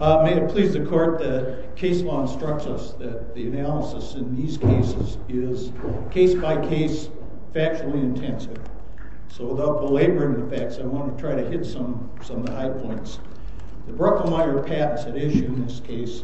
May it please the Court, the case law instructs us that the analysis in these cases is case-by-case, factually intensive. So without belaboring the facts, I want to try to hit some of the high points. The Bruckelmyer patents at issue in this case...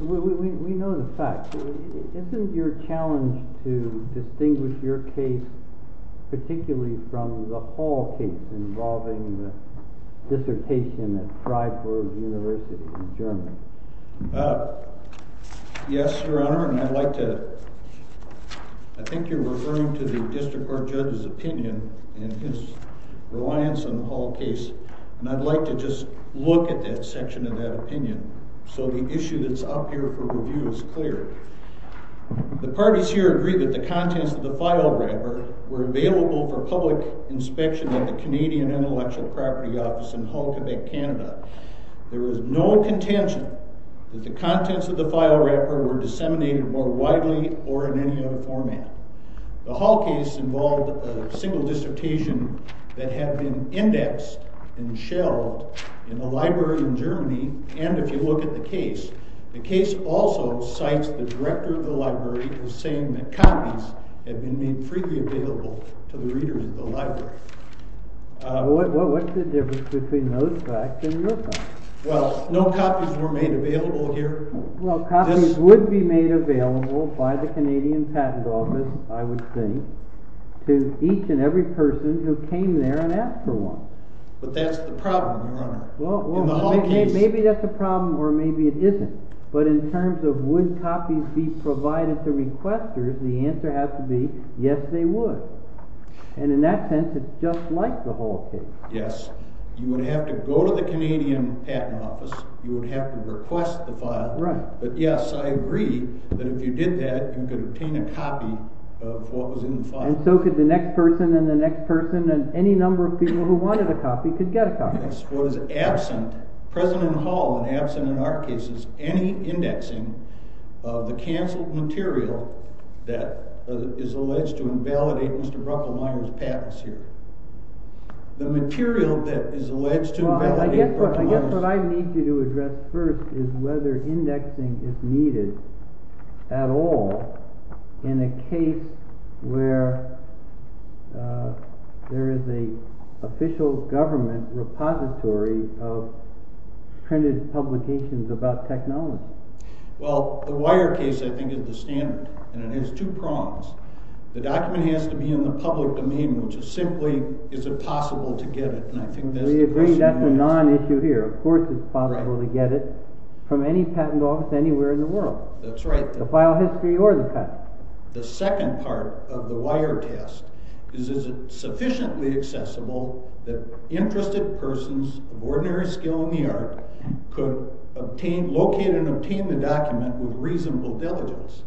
Yes, Your Honor, and I'd like to... I think you're referring to the district court judge's opinion and his reliance on the Hall case, and I'd like to just look at that section of that opinion so the issue that's up here for review is clear. The parties here agree that the contents of the file wrapper were available for public inspection at the Canadian Intellectual Property Office in Hull, Quebec, Canada. There was no contention that the contents of the file wrapper were disseminated more widely or in any other format. The Hall case involved a single dissertation that had been indexed and shelled in a library in Germany, and if you look at the case, the case also cites the director of the library as saying that copies had been made freely available to the readers of the library. What's the difference between those facts and your facts? Well, no copies were made available here. Well, copies would be made available by the Canadian Patent Office, I would think, to each and every person who came there and asked for one. But that's the problem, Your Honor. In the Hall case... Well, maybe that's a problem or maybe it isn't, but in terms of would copies be provided to requesters, the answer has to be yes, they would. And in that sense, it's just like the Hall case. Yes, you would have to go to the Canadian Patent Office, you would have to request the file, but yes, I agree that if you did that, you could obtain a copy of what was in the file. And so could the next person and the next person and any number of people who wanted a copy could get a copy. The Canadian Patent Office was absent, present in the Hall and absent in our cases, any indexing of the cancelled material that is alleged to invalidate Mr. Brocklemyer's patents here. The material that is alleged to invalidate Brocklemyer's... ...printed publications about technology. Well, the Wire case, I think, is the standard and it has two prongs. The document has to be in the public domain, which is simply, is it possible to get it, and I think that's the question. We agree that's a non-issue here. Of course it's possible to get it from any patent office anywhere in the world. That's right. The file history or the patent. The second part of the Wire test is, is it sufficiently accessible that interested persons of ordinary skill in the art could locate and obtain the document with reasonable diligence.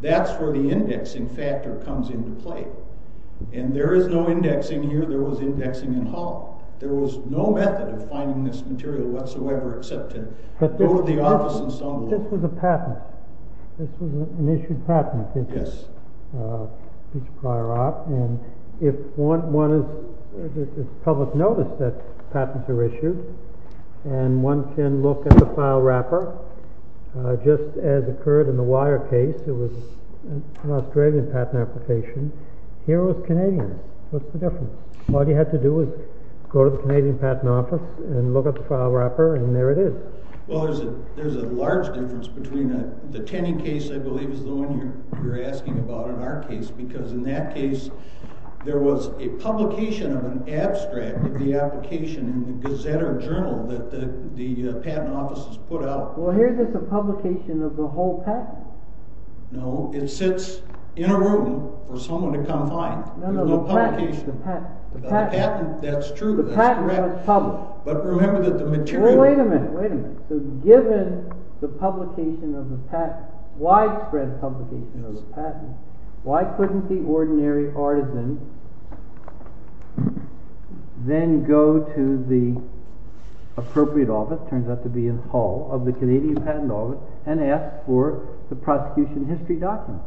That's where the indexing factor comes into play. And there is no indexing here, there was indexing in Hall. There was no method of finding this material whatsoever except to go to the office and stumble... This was a patent. This was an issued patent, I think. Yes. And if one is, there's public notice that patents are issued, and one can look at the file wrapper, just as occurred in the Wire case. It was an Australian patent application. Here it was Canadian. What's the difference? All you had to do was go to the Canadian patent office and look at the file wrapper and there it is. Well, there's a large difference between the Tenney case, I believe, is the one you're asking about in our case, because in that case there was a publication of an abstract of the application in the Gazette or Journal that the patent offices put out. Well, here's just a publication of the whole patent. No, it sits in a room for someone to come find. No, no, the patent, the patent. That's true, that's correct. The patent was public. But remember that the material... Wait a minute, wait a minute. So given the publication of the patent, widespread publication of the patent, why couldn't the ordinary artisan then go to the appropriate office, turns out to be a hall of the Canadian patent office, and ask for the prosecution history document?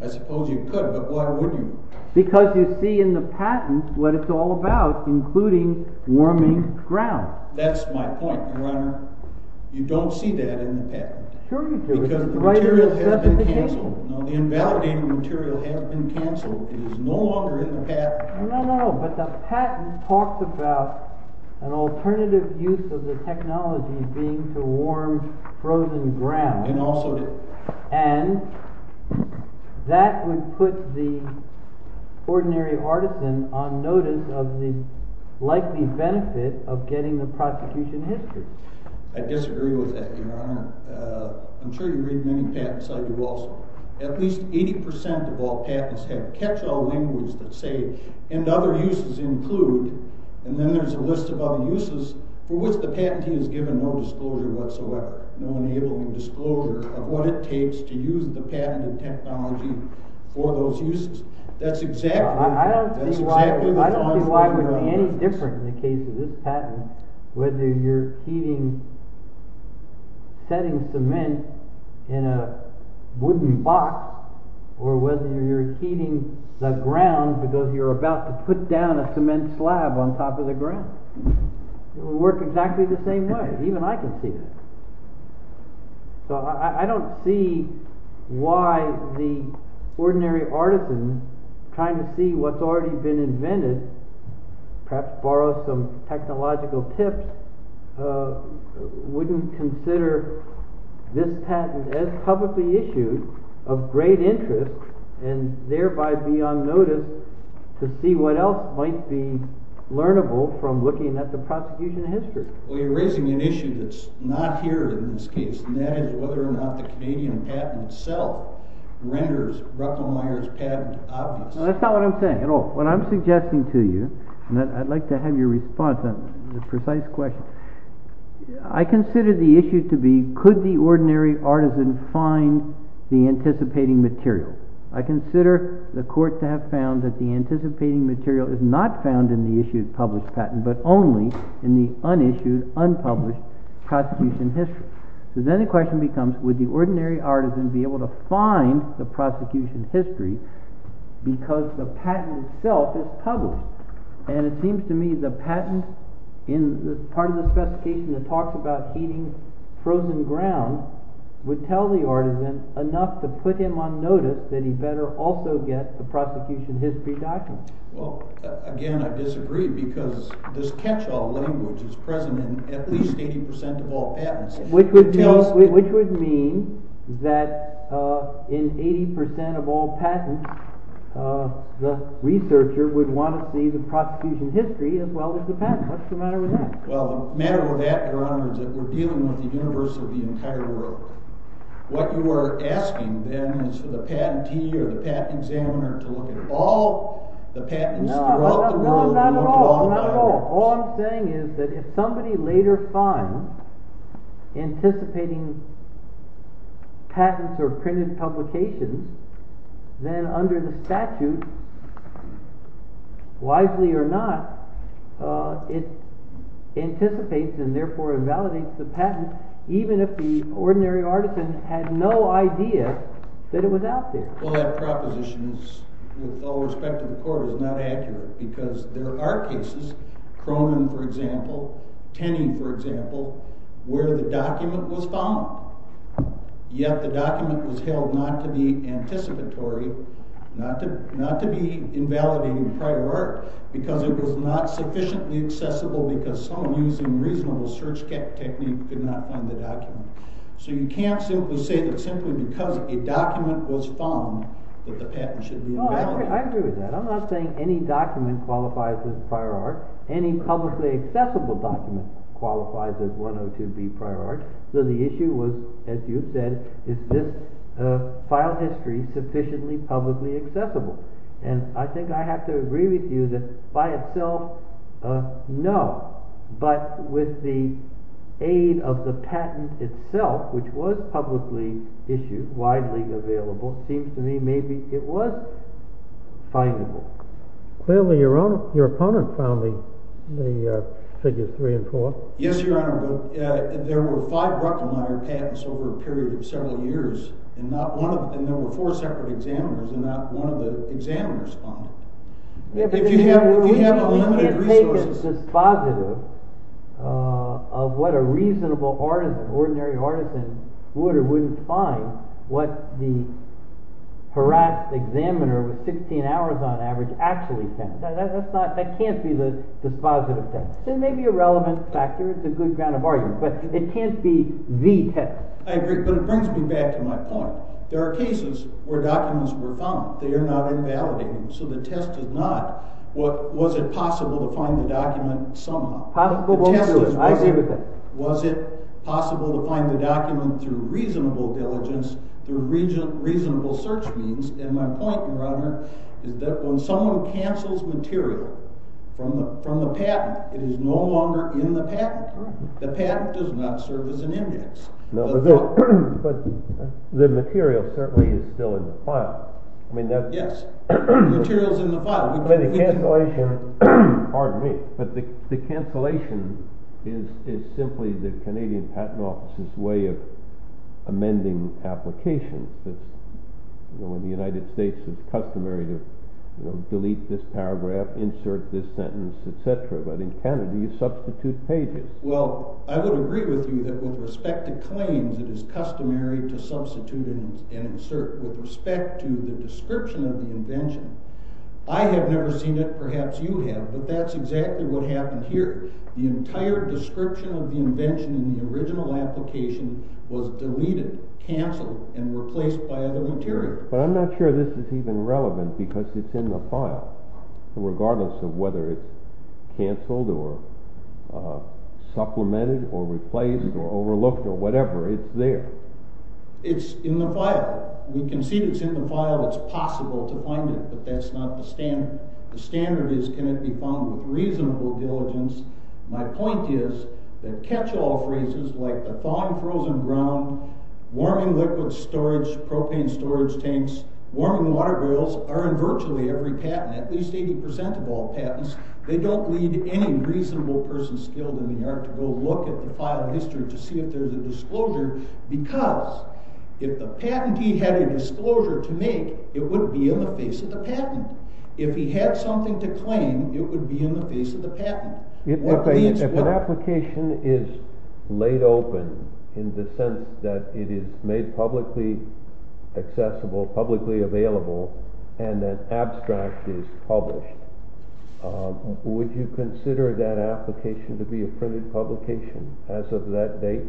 I suppose you could, but why wouldn't you? Because you see in the patent what it's all about, including warming ground. That's my point, Your Honor. You don't see that in the patent. Sure you do. Because the material has been cancelled. No, the invalidating material has been cancelled. It is no longer in the patent. No, no, but the patent talks about an alternative use of the technology being to warm frozen ground. It also did. And that would put the ordinary artisan on notice of the likely benefit of getting the prosecution history. I disagree with that, Your Honor. I'm sure you read many patents, I do also. At least 80% of all patents have catch-all linguas that say, and other uses include, and then there's a list of other uses for which the patentee is given no disclosure whatsoever. No enabling disclosure of what it takes to use the patent and technology for those uses. I don't see why it would be any different in the case of this patent, whether you're heating, setting cement in a wooden box, or whether you're heating the ground because you're about to put down a cement slab on top of the ground. It would work exactly the same way. Even I can see that. So I don't see why the ordinary artisan, trying to see what's already been invented, perhaps borrow some technological tips, wouldn't consider this patent as publicly issued of great interest, and thereby be on notice to see what else might be learnable from looking at the prosecution history. Well, you're raising an issue that's not here in this case, and that is whether or not the Canadian patent itself renders Ruckelmeier's patent obvious. No, that's not what I'm saying at all. What I'm suggesting to you, and I'd like to have your response on this precise question, I consider the issue to be, could the ordinary artisan find the anticipating material? I consider the court to have found that the anticipating material is not found in the issued, published patent, but only in the unissued, unpublished prosecution history. So then the question becomes, would the ordinary artisan be able to find the prosecution history because the patent itself is published? And it seems to me the patent, part of the specification that talks about eating frozen ground, would tell the artisan enough to put him on notice that he better also get the prosecution history document. Well, again, I disagree because this catch-all language is present in at least 80% of all patents. Which would mean that in 80% of all patents, the researcher would want to see the prosecution history as well as the patent. What's the matter with that? Well, the matter with that, Your Honor, is that we're dealing with the universe of the entire world. What you are asking, then, is for the patentee or the patent examiner to look at all the patents throughout the world. No, not at all. All I'm saying is that if somebody later finds anticipating patents or printed publications, then under the statute, wisely or not, it anticipates and therefore invalidates the patent, even if the ordinary artisan had no idea that it was out there. Well, that proposition, with all respect to the Court, is not accurate because there are cases, Cronin, for example, Tenney, for example, where the document was found. Yet the document was held not to be anticipatory, not to be invalidating prior art, because it was not sufficiently accessible because someone using reasonable search technique could not find the document. So you can't simply say that simply because a document was found that the patent should be invalidated. No, I agree with that. I'm not saying any document qualifies as prior art. Any publicly accessible document qualifies as 102B prior art. So the issue was, as you said, is this file history sufficiently publicly accessible? And I think I have to agree with you that by itself, no. But with the aid of the patent itself, which was publicly issued, widely available, it seems to me maybe it was findable. Clearly, your opponent found the figures three and four. Yes, Your Honor, but there were five Ruckenmeyer patents over a period of several years, and there were four separate examiners, and not one of the examiners found it. If you have unlimited resources. We can't take a dispositive of what a reasonable artisan, ordinary artisan, would or wouldn't find what the harassed examiner with 16 hours on average actually found. That can't be the dispositive thing. It may be a relevant factor. It's a good ground of argument, but it can't be the test. I agree, but it brings me back to my point. There are cases where documents were found. They are not invalidated. So the test is not, was it possible to find the document somehow? I agree with that. Was it possible to find the document through reasonable diligence, through reasonable search means? And my point, Your Honor, is that when someone cancels material from the patent, it is no longer in the patent. The patent does not serve as an index. No, but the material certainly is still in the file. Yes, the material is in the file. Pardon me, but the cancellation is simply the Canadian Patent Office's way of amending applications. In the United States, it's customary to delete this paragraph, insert this sentence, etc. But in Canada, you substitute pages. Well, I would agree with you that with respect to claims, it is customary to substitute and insert. With respect to the description of the invention, I have never seen it. Perhaps you have, but that's exactly what happened here. The entire description of the invention in the original application was deleted, cancelled, and replaced by other material. But I'm not sure this is even relevant because it's in the file. Regardless of whether it's cancelled or supplemented or replaced or overlooked or whatever, it's there. It's in the file. We can see it's in the file. It's possible to find it, but that's not the standard. The standard is, can it be found with reasonable diligence? My point is that catch-all phrases like the thawing frozen ground, warming liquid storage, propane storage tanks, warming water boils, are in virtually every patent, at least 80% of all patents. They don't need any reasonable person skilled in the art to go look at the file history to see if there's a disclosure because if the patentee had a disclosure to make, it wouldn't be in the face of the patent. If he had something to claim, it would be in the face of the patent. If an application is laid open in the sense that it is made publicly accessible, publicly available, and an abstract is published, would you consider that application to be a printed publication as of that date?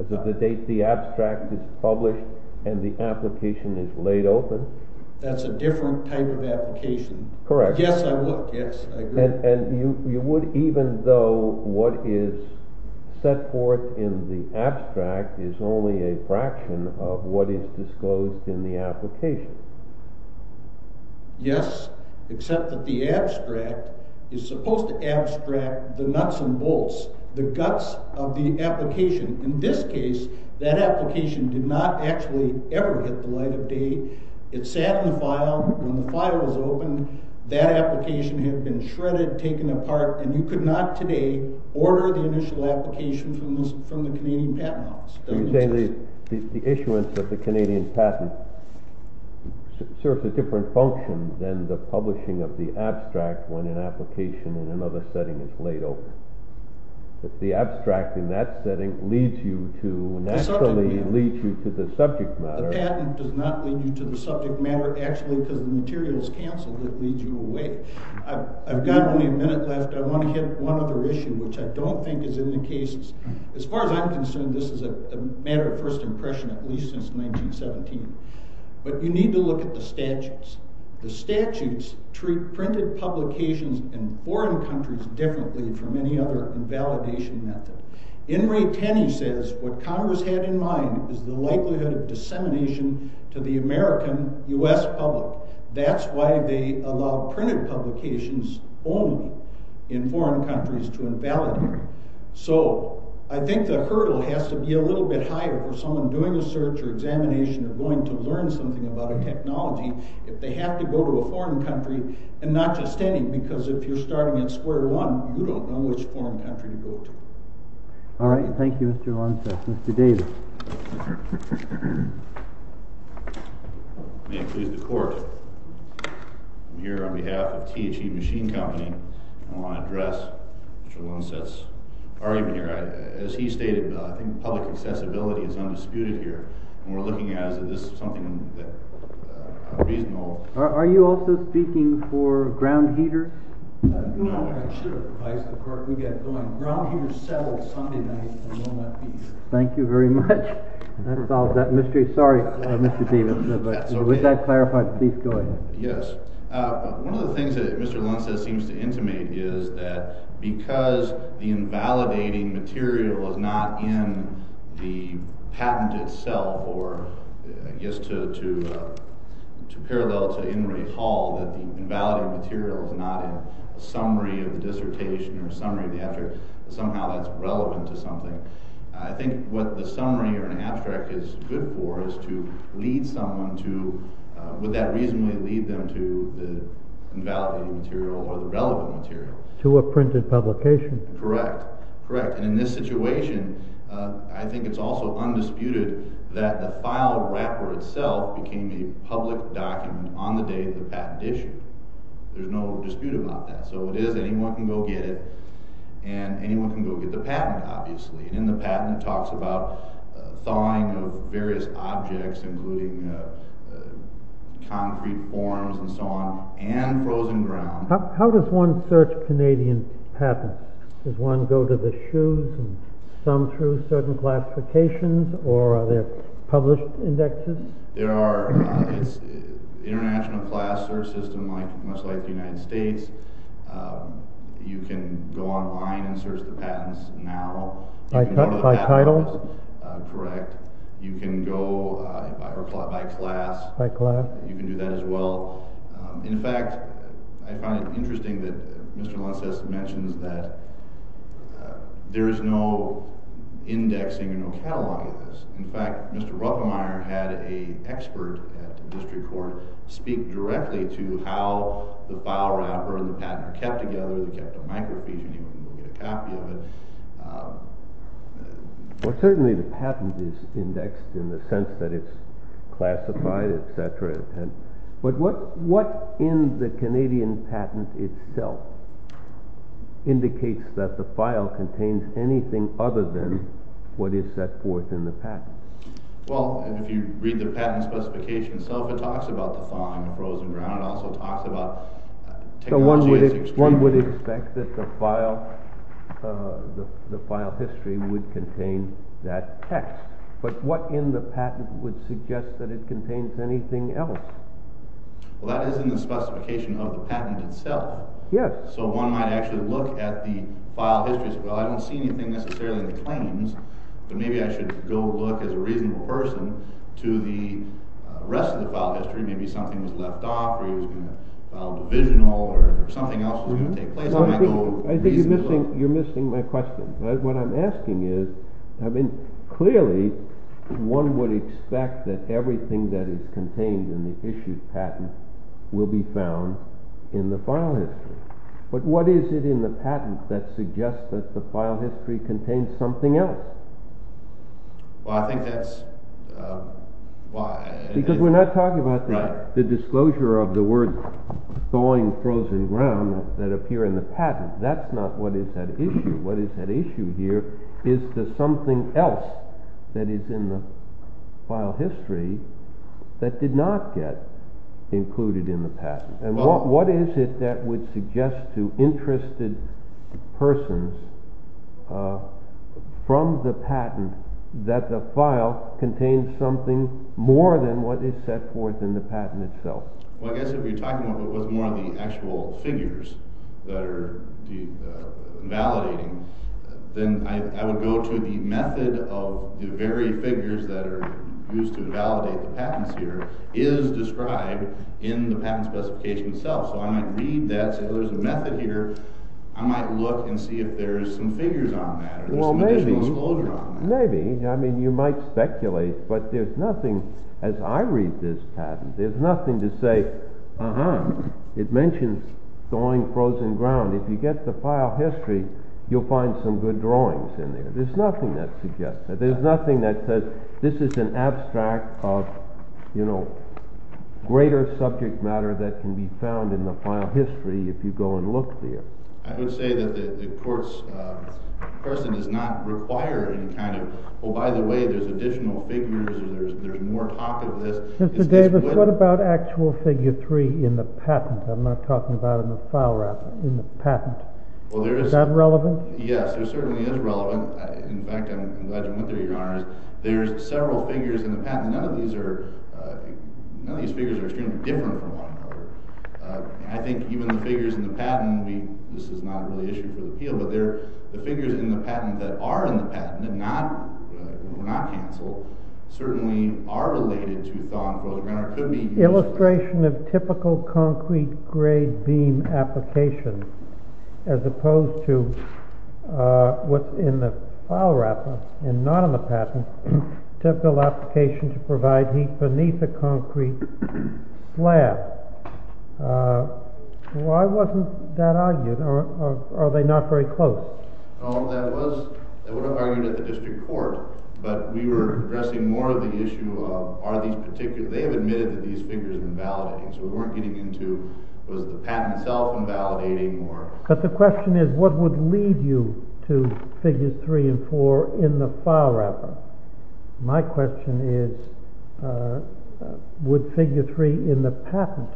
As of the date the abstract is published and the application is laid open? That's a different type of application. Correct. You would even though what is set forth in the abstract is only a fraction of what is disclosed in the application? Yes, except that the abstract is supposed to abstract the nuts and bolts, the guts of the application. In this case, that application did not actually ever hit the light of day. It sat in the file. When the file was opened, that application had been shredded, taken apart, and you could not today order the initial application from the Canadian Patent Office. Are you saying the issuance of the Canadian patent serves a different function than the publishing of the abstract when an application in another setting is laid open? If the abstract in that setting naturally leads you to the subject matter... Actually, because the material is cancelled, it leads you away. I've got only a minute left. I want to hit one other issue, which I don't think is in the cases. As far as I'm concerned, this is a matter of first impression, at least since 1917. But you need to look at the statutes. The statutes treat printed publications in foreign countries differently from any other validation method. In Ray Tenney says, what Congress had in mind is the likelihood of dissemination to the American U.S. public. That's why they allow printed publications only in foreign countries to invalidate. So I think the hurdle has to be a little bit higher for someone doing a search or examination or going to learn something about a technology, if they have to go to a foreign country, and not just any. Because if you're starting in square one, you don't know which foreign country to go to. All right. Thank you, Mr. Lunsett. Mr. Davis. May it please the Court, I'm here on behalf of THC Machine Company. I want to address Mr. Lunsett's argument here. As he stated, I think public accessibility is undisputed here. And we're looking at it as something that is reasonable. Are you also speaking for Ground Heater? No, I should have. Ground Heater settled Sunday night. Thank you very much. That solves that mystery. Sorry, Mr. Davis, but with that clarified, please go ahead. Yes. One of the things that Mr. Lunsett seems to intimate is that because the invalidating material is not in the patent itself, or I guess to parallel to Inouye Hall, that the invalidated material is not in a summary of the dissertation or summary of the abstract, but somehow that's relevant to something. I think what the summary or an abstract is good for is to lead someone to, would that reasonably lead them to the invalidated material or the relevant material? To a printed publication. Correct. And in this situation, I think it's also undisputed that the file wrapper itself became a public document on the day of the patent issue. There's no dispute about that. So it is, anyone can go get it, and anyone can go get the patent, obviously. And in the patent, it talks about thawing of various objects, including concrete forms and so on, and frozen ground. How does one search Canadian patents? Does one go to the shoes and thumb through certain classifications, or are there published indexes? There are. It's an international class search system, much like the United States. You can go online and search the patents now. By title? Correct. You can go by class. By class. You can do that as well. In fact, I find it interesting that Mr. Lences mentions that there is no indexing or no catalog of this. In fact, Mr. Ruppemeier had an expert at the district court speak directly to how the file wrapper and the patent are kept together. They're kept on microfiche, and anyone can go get a copy of it. Well, certainly the patent is indexed in the sense that it's classified, etc. But what in the Canadian patent itself indicates that the file contains anything other than what is set forth in the patent? Well, if you read the patent specification itself, it talks about the thawing of frozen ground. So one would expect that the file history would contain that text. But what in the patent would suggest that it contains anything else? Well, that is in the specification of the patent itself. So one might actually look at the file history. Well, I don't see anything necessarily in the claims, but maybe I should go look as a reasonable person to the rest of the file history. Maybe something was left off, or it was going to file divisional, or something else was going to take place. I think you're missing my question. What I'm asking is, clearly, one would expect that everything that is contained in the issued patent will be found in the file history. But what is it in the patent that suggests that the file history contains something else? Well, I think that's... Because we're not talking about the disclosure of the word thawing frozen ground that appear in the patent. That's not what is at issue. What is at issue here is the something else that is in the file history that did not get included in the patent. And what is it that would suggest to interested persons from the patent that the file contains something more than what is set forth in the patent itself? Well, I guess if you're talking about what's more on the actual figures that are validating, then I would go to the method of the very figures that are used to validate the patents here is described in the patent specification itself. So I might read that, say there's a method here. I might look and see if there's some figures on that, or there's some additional disclosure on that. Maybe. I mean, you might speculate, but there's nothing, as I read this patent, there's nothing to say, uh-huh, it mentions thawing frozen ground. If you get the file history, you'll find some good drawings in there. There's nothing that suggests that. There's nothing that says this is an abstract of, you know, greater subject matter that can be found in the file history if you go and look there. I would say that the court's person does not require any kind of, oh, by the way, there's additional figures or there's more topic of this. Mr. Davis, what about actual figure three in the patent? I'm not talking about in the file record, in the patent. Is that relevant? Yes, it certainly is relevant. In fact, I'm glad you went there, Your Honors. There's several figures in the patent. None of these are, none of these figures are extremely different from one another. I think even the figures in the patent, this is not really an issue for the appeal, but the figures in the patent that are in the patent and were not canceled certainly are related to thawing frozen ground. Illustration of typical concrete grade beam application as opposed to what's in the file wrapper and not in the patent, typical application to provide heat beneath a concrete slab. Why wasn't that argued or are they not very close? Oh, that was, that would have argued at the district court, but we were addressing more of the issue of are these particular, they have admitted that these figures are invalidating, so we weren't getting into was the patent itself invalidating or... But the question is what would lead you to figures three and four in the file wrapper? My question is would figure three in the patent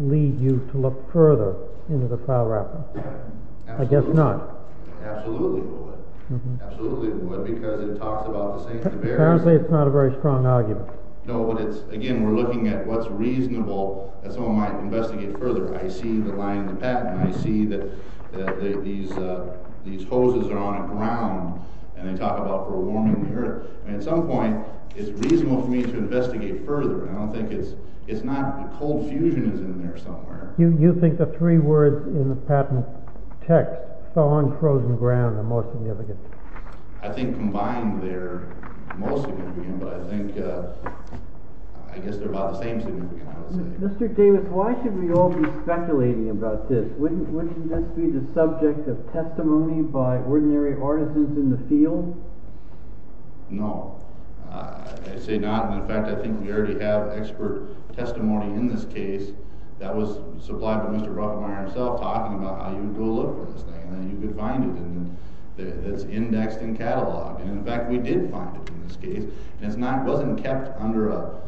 lead you to look further into the file wrapper? I guess not. Absolutely it would. Absolutely it would because it talks about the same thing. Apparently it's not a very strong argument. No, but it's, again, we're looking at what's reasonable that someone might investigate further. I see the line in the patent. I see that these hoses are on a ground and they talk about for warming the earth. At some point it's reasonable for me to investigate further. I don't think it's, it's not, the cold fusion is in there somewhere. You think the three words in the patent text, thaw and frozen ground, are more significant? I think combined they're more significant, but I think, I guess they're about the same significant, I would say. Mr. Davis, why should we all be speculating about this? Wouldn't this be the subject of testimony by ordinary artisans in the field? No, I say not. In fact, I think we already have expert testimony in this case that was supplied by Mr. Rothmeier himself talking about how you would go look for this thing. You could find it and it's indexed and cataloged. And in fact, we did find it in this case. And it's not, it wasn't kept under a,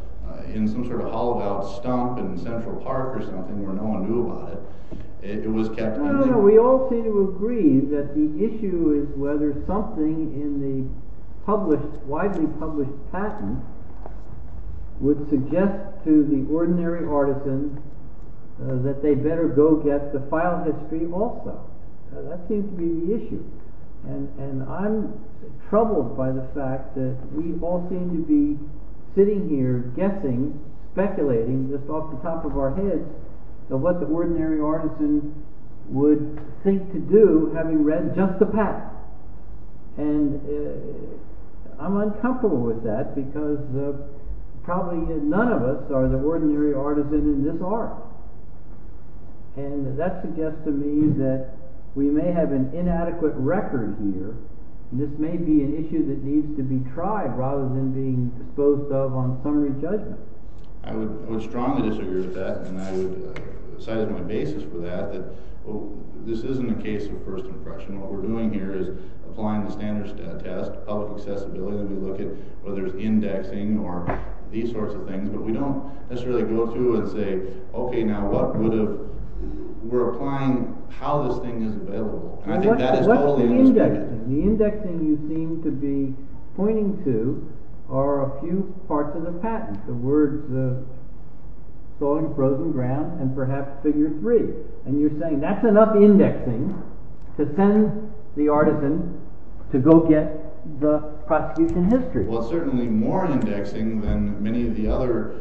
in some sort of hollowed out stump in Central Park or something where no one knew about it. It was kept. No, no, no, we all seem to agree that the issue is whether something in the published, widely published patent would suggest to the ordinary artisans that they better go get the file history also. That seems to be the issue. And I'm troubled by the fact that we all seem to be sitting here guessing, speculating just off the top of our heads of what the ordinary artisan would think to do having read just the patent. And I'm uncomfortable with that because probably none of us are the ordinary artisan in this art. And that suggests to me that we may have an inadequate record here. This may be an issue that needs to be tried rather than being exposed of on summary judgment. I would strongly disagree with that. And I would cite my basis for that, that this isn't a case of first impression. What we're doing here is applying the standards to test public accessibility. And we look at whether it's indexing or these sorts of things. But we don't necessarily go through and say, okay, now what would have, we're applying how this thing is available. And I think that is totally. The indexing you seem to be pointing to are a few parts of the patent. The words, the sawing frozen ground and perhaps figure three. And you're saying that's enough indexing to send the artisan to go get the prosecution history. Well, certainly more indexing than many of the other.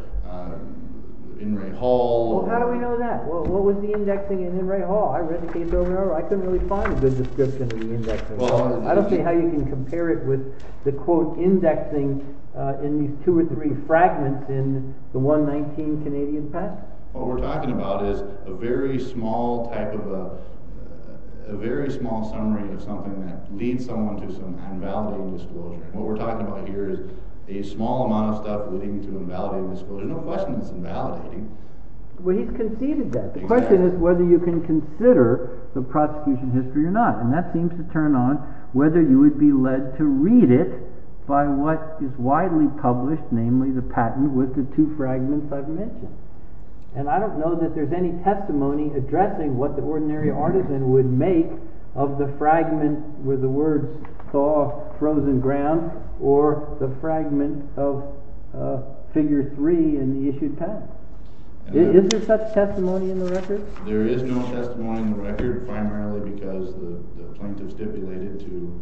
In Ray Hall. How do we know that? What was the indexing in Ray Hall? I read the case over and over. I couldn't really find a good description of the indexing. I don't see how you can compare it with the, quote, indexing in these two or three fragments in the 119 Canadian patent. What we're talking about is a very small type of, a very small summary of something that leads someone to some invalidating disclosure. What we're talking about here is a small amount of stuff leading to invalidating disclosure. No question it's invalidating. Well, he's conceded that. The question is whether you can consider the prosecution history or not. And that seems to turn on whether you would be led to read it by what is widely published, namely the patent with the two fragments I've mentioned. And I don't know that there's any testimony addressing what the ordinary artisan would make of the fragment where the words saw frozen ground or the fragment of figure three in the issued patent. Is there such testimony in the record? There is no testimony in the record, primarily because the plaintiff stipulated to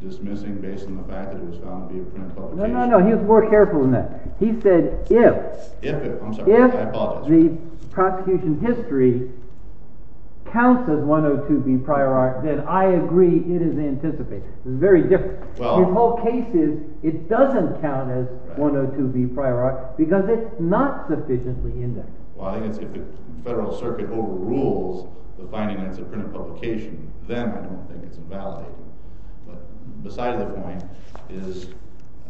dismissing based on the fact that it was found to be a print publication. No, no, no. He was more careful than that. He said if the prosecution history counts as 102B prior art, then I agree it is anticipated. It's very different. The whole case is it doesn't count as 102B prior art because it's not sufficiently indexed. Well, I think it's if the Federal Circuit overrules the finding that it's a print publication, then I don't think it's invalidating. But beside the point is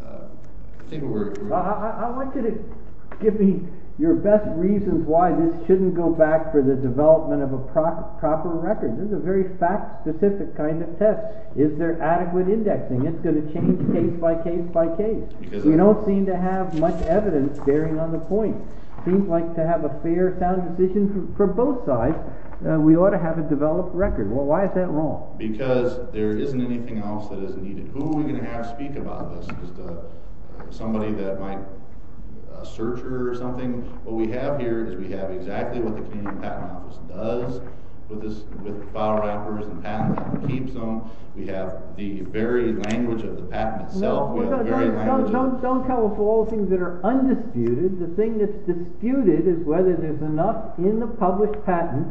I think what we're— I'd like you to give me your best reasons why this shouldn't go back for the development of a proper record. This is a very fact-specific kind of test. Is there adequate indexing? It's going to change case by case by case. We don't seem to have much evidence bearing on the point. It seems like to have a fair, sound decision for both sides, we ought to have a developed record. Well, why is that wrong? Because there isn't anything else that is needed. Who are we going to have speak about this? Just somebody that might—a searcher or something? What we have here is we have exactly what the Canadian Patent Office does with file wrappers and patents and keeps them. We have the very language of the patent itself. Don't tell us all the things that are undisputed. The thing that's disputed is whether there's enough in the published patent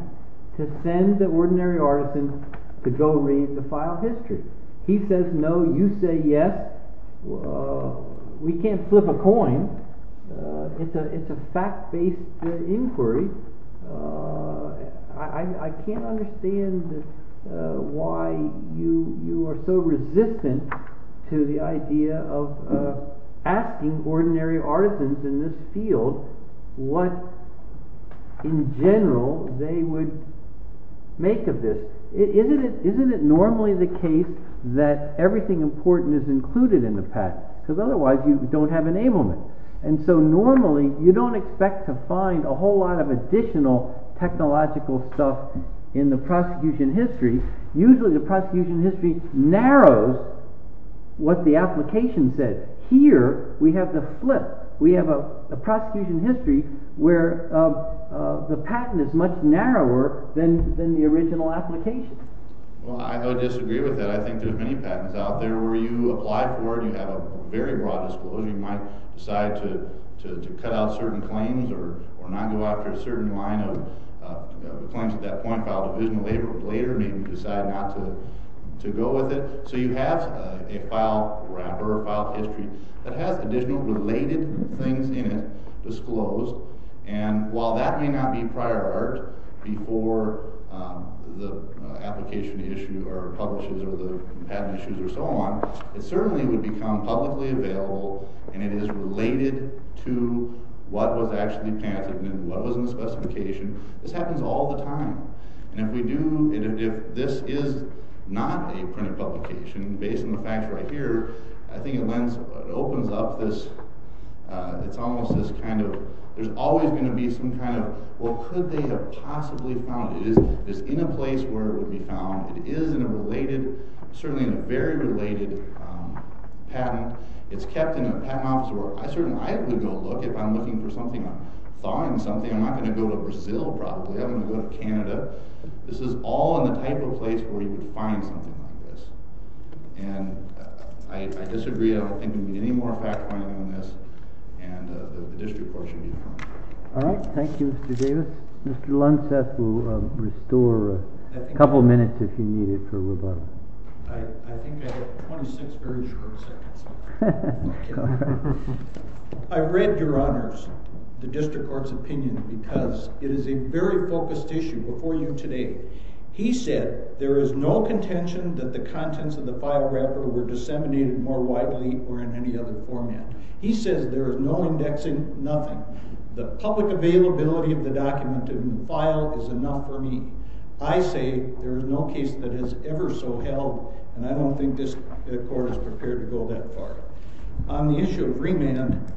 to send the ordinary artisan to go read the file history. He says no. You say yes. We can't flip a coin. It's a fact-based inquiry. I can't understand why you are so resistant to the idea of asking ordinary artisans in this field what, in general, they would make of this. Isn't it normally the case that everything important is included in the patent? Because otherwise you don't have enablement. And so normally you don't expect to find a whole lot of additional technological stuff in the prosecution history. Usually the prosecution history narrows what the application says. Here we have the flip. We have a prosecution history where the patent is much narrower than the original application. Well, I don't disagree with that. I think there are many patents out there where you apply for and you have a very broad disclosure. You might decide to cut out certain claims or not go after a certain line of claims at that point. File division later may decide not to go with it. So you have a file wrapper, a file history that has additional related things in it disclosed. And while that may not be prior art before the application issue or publishes or the patent issues or so on, it certainly would become publicly available and it is related to what was actually patented and what was in the specification. This happens all the time. And if this is not a printed publication, based on the facts right here, I think it opens up this, it's almost this kind of, there's always going to be some kind of, well, could they have possibly found it? It's in a place where it would be found. It is in a related, certainly in a very related patent. It's kept in a patent office where I certainly would go look if I'm looking for something, if I'm thawing something, I'm not going to go to Brazil probably. I'm going to go to Canada. This is all in the type of place where you could find something like this. And I disagree. I don't think there would be any more fact-finding on this. And the district court should be fine. All right. Thank you, Mr. Davis. Mr. Lunseth will restore a couple minutes if you need it for rebuttal. I think I have 26 very short seconds. I'm not kidding. I've read your honors, the district court's opinion, because it is a very focused issue before you today. He said there is no contention that the contents of the file wrapper were disseminated more widely or in any other format. He says there is no indexing, nothing. The public availability of the document in the file is enough for me. I say there is no case that has ever so held, and I don't think this court is prepared to go that far. On the issue of remand,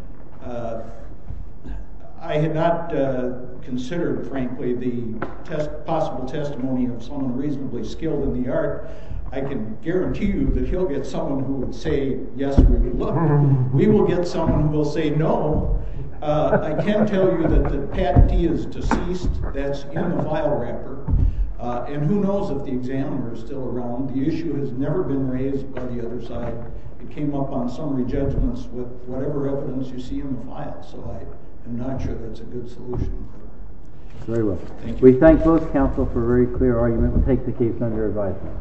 I had not considered, frankly, the possible testimony of someone reasonably skilled in the art. I can guarantee you that he'll get someone who will say, yes, we would look at it. We will get someone who will say no. I can tell you that Pat D is deceased. That's in the file wrapper. And who knows if the examiner is still around. The issue has never been raised by the other side. It came up on summary judgments with whatever evidence you see in the file. So I'm not sure that's a good solution. Very well. We thank both counsel for a very clear argument. We take the case under advisement.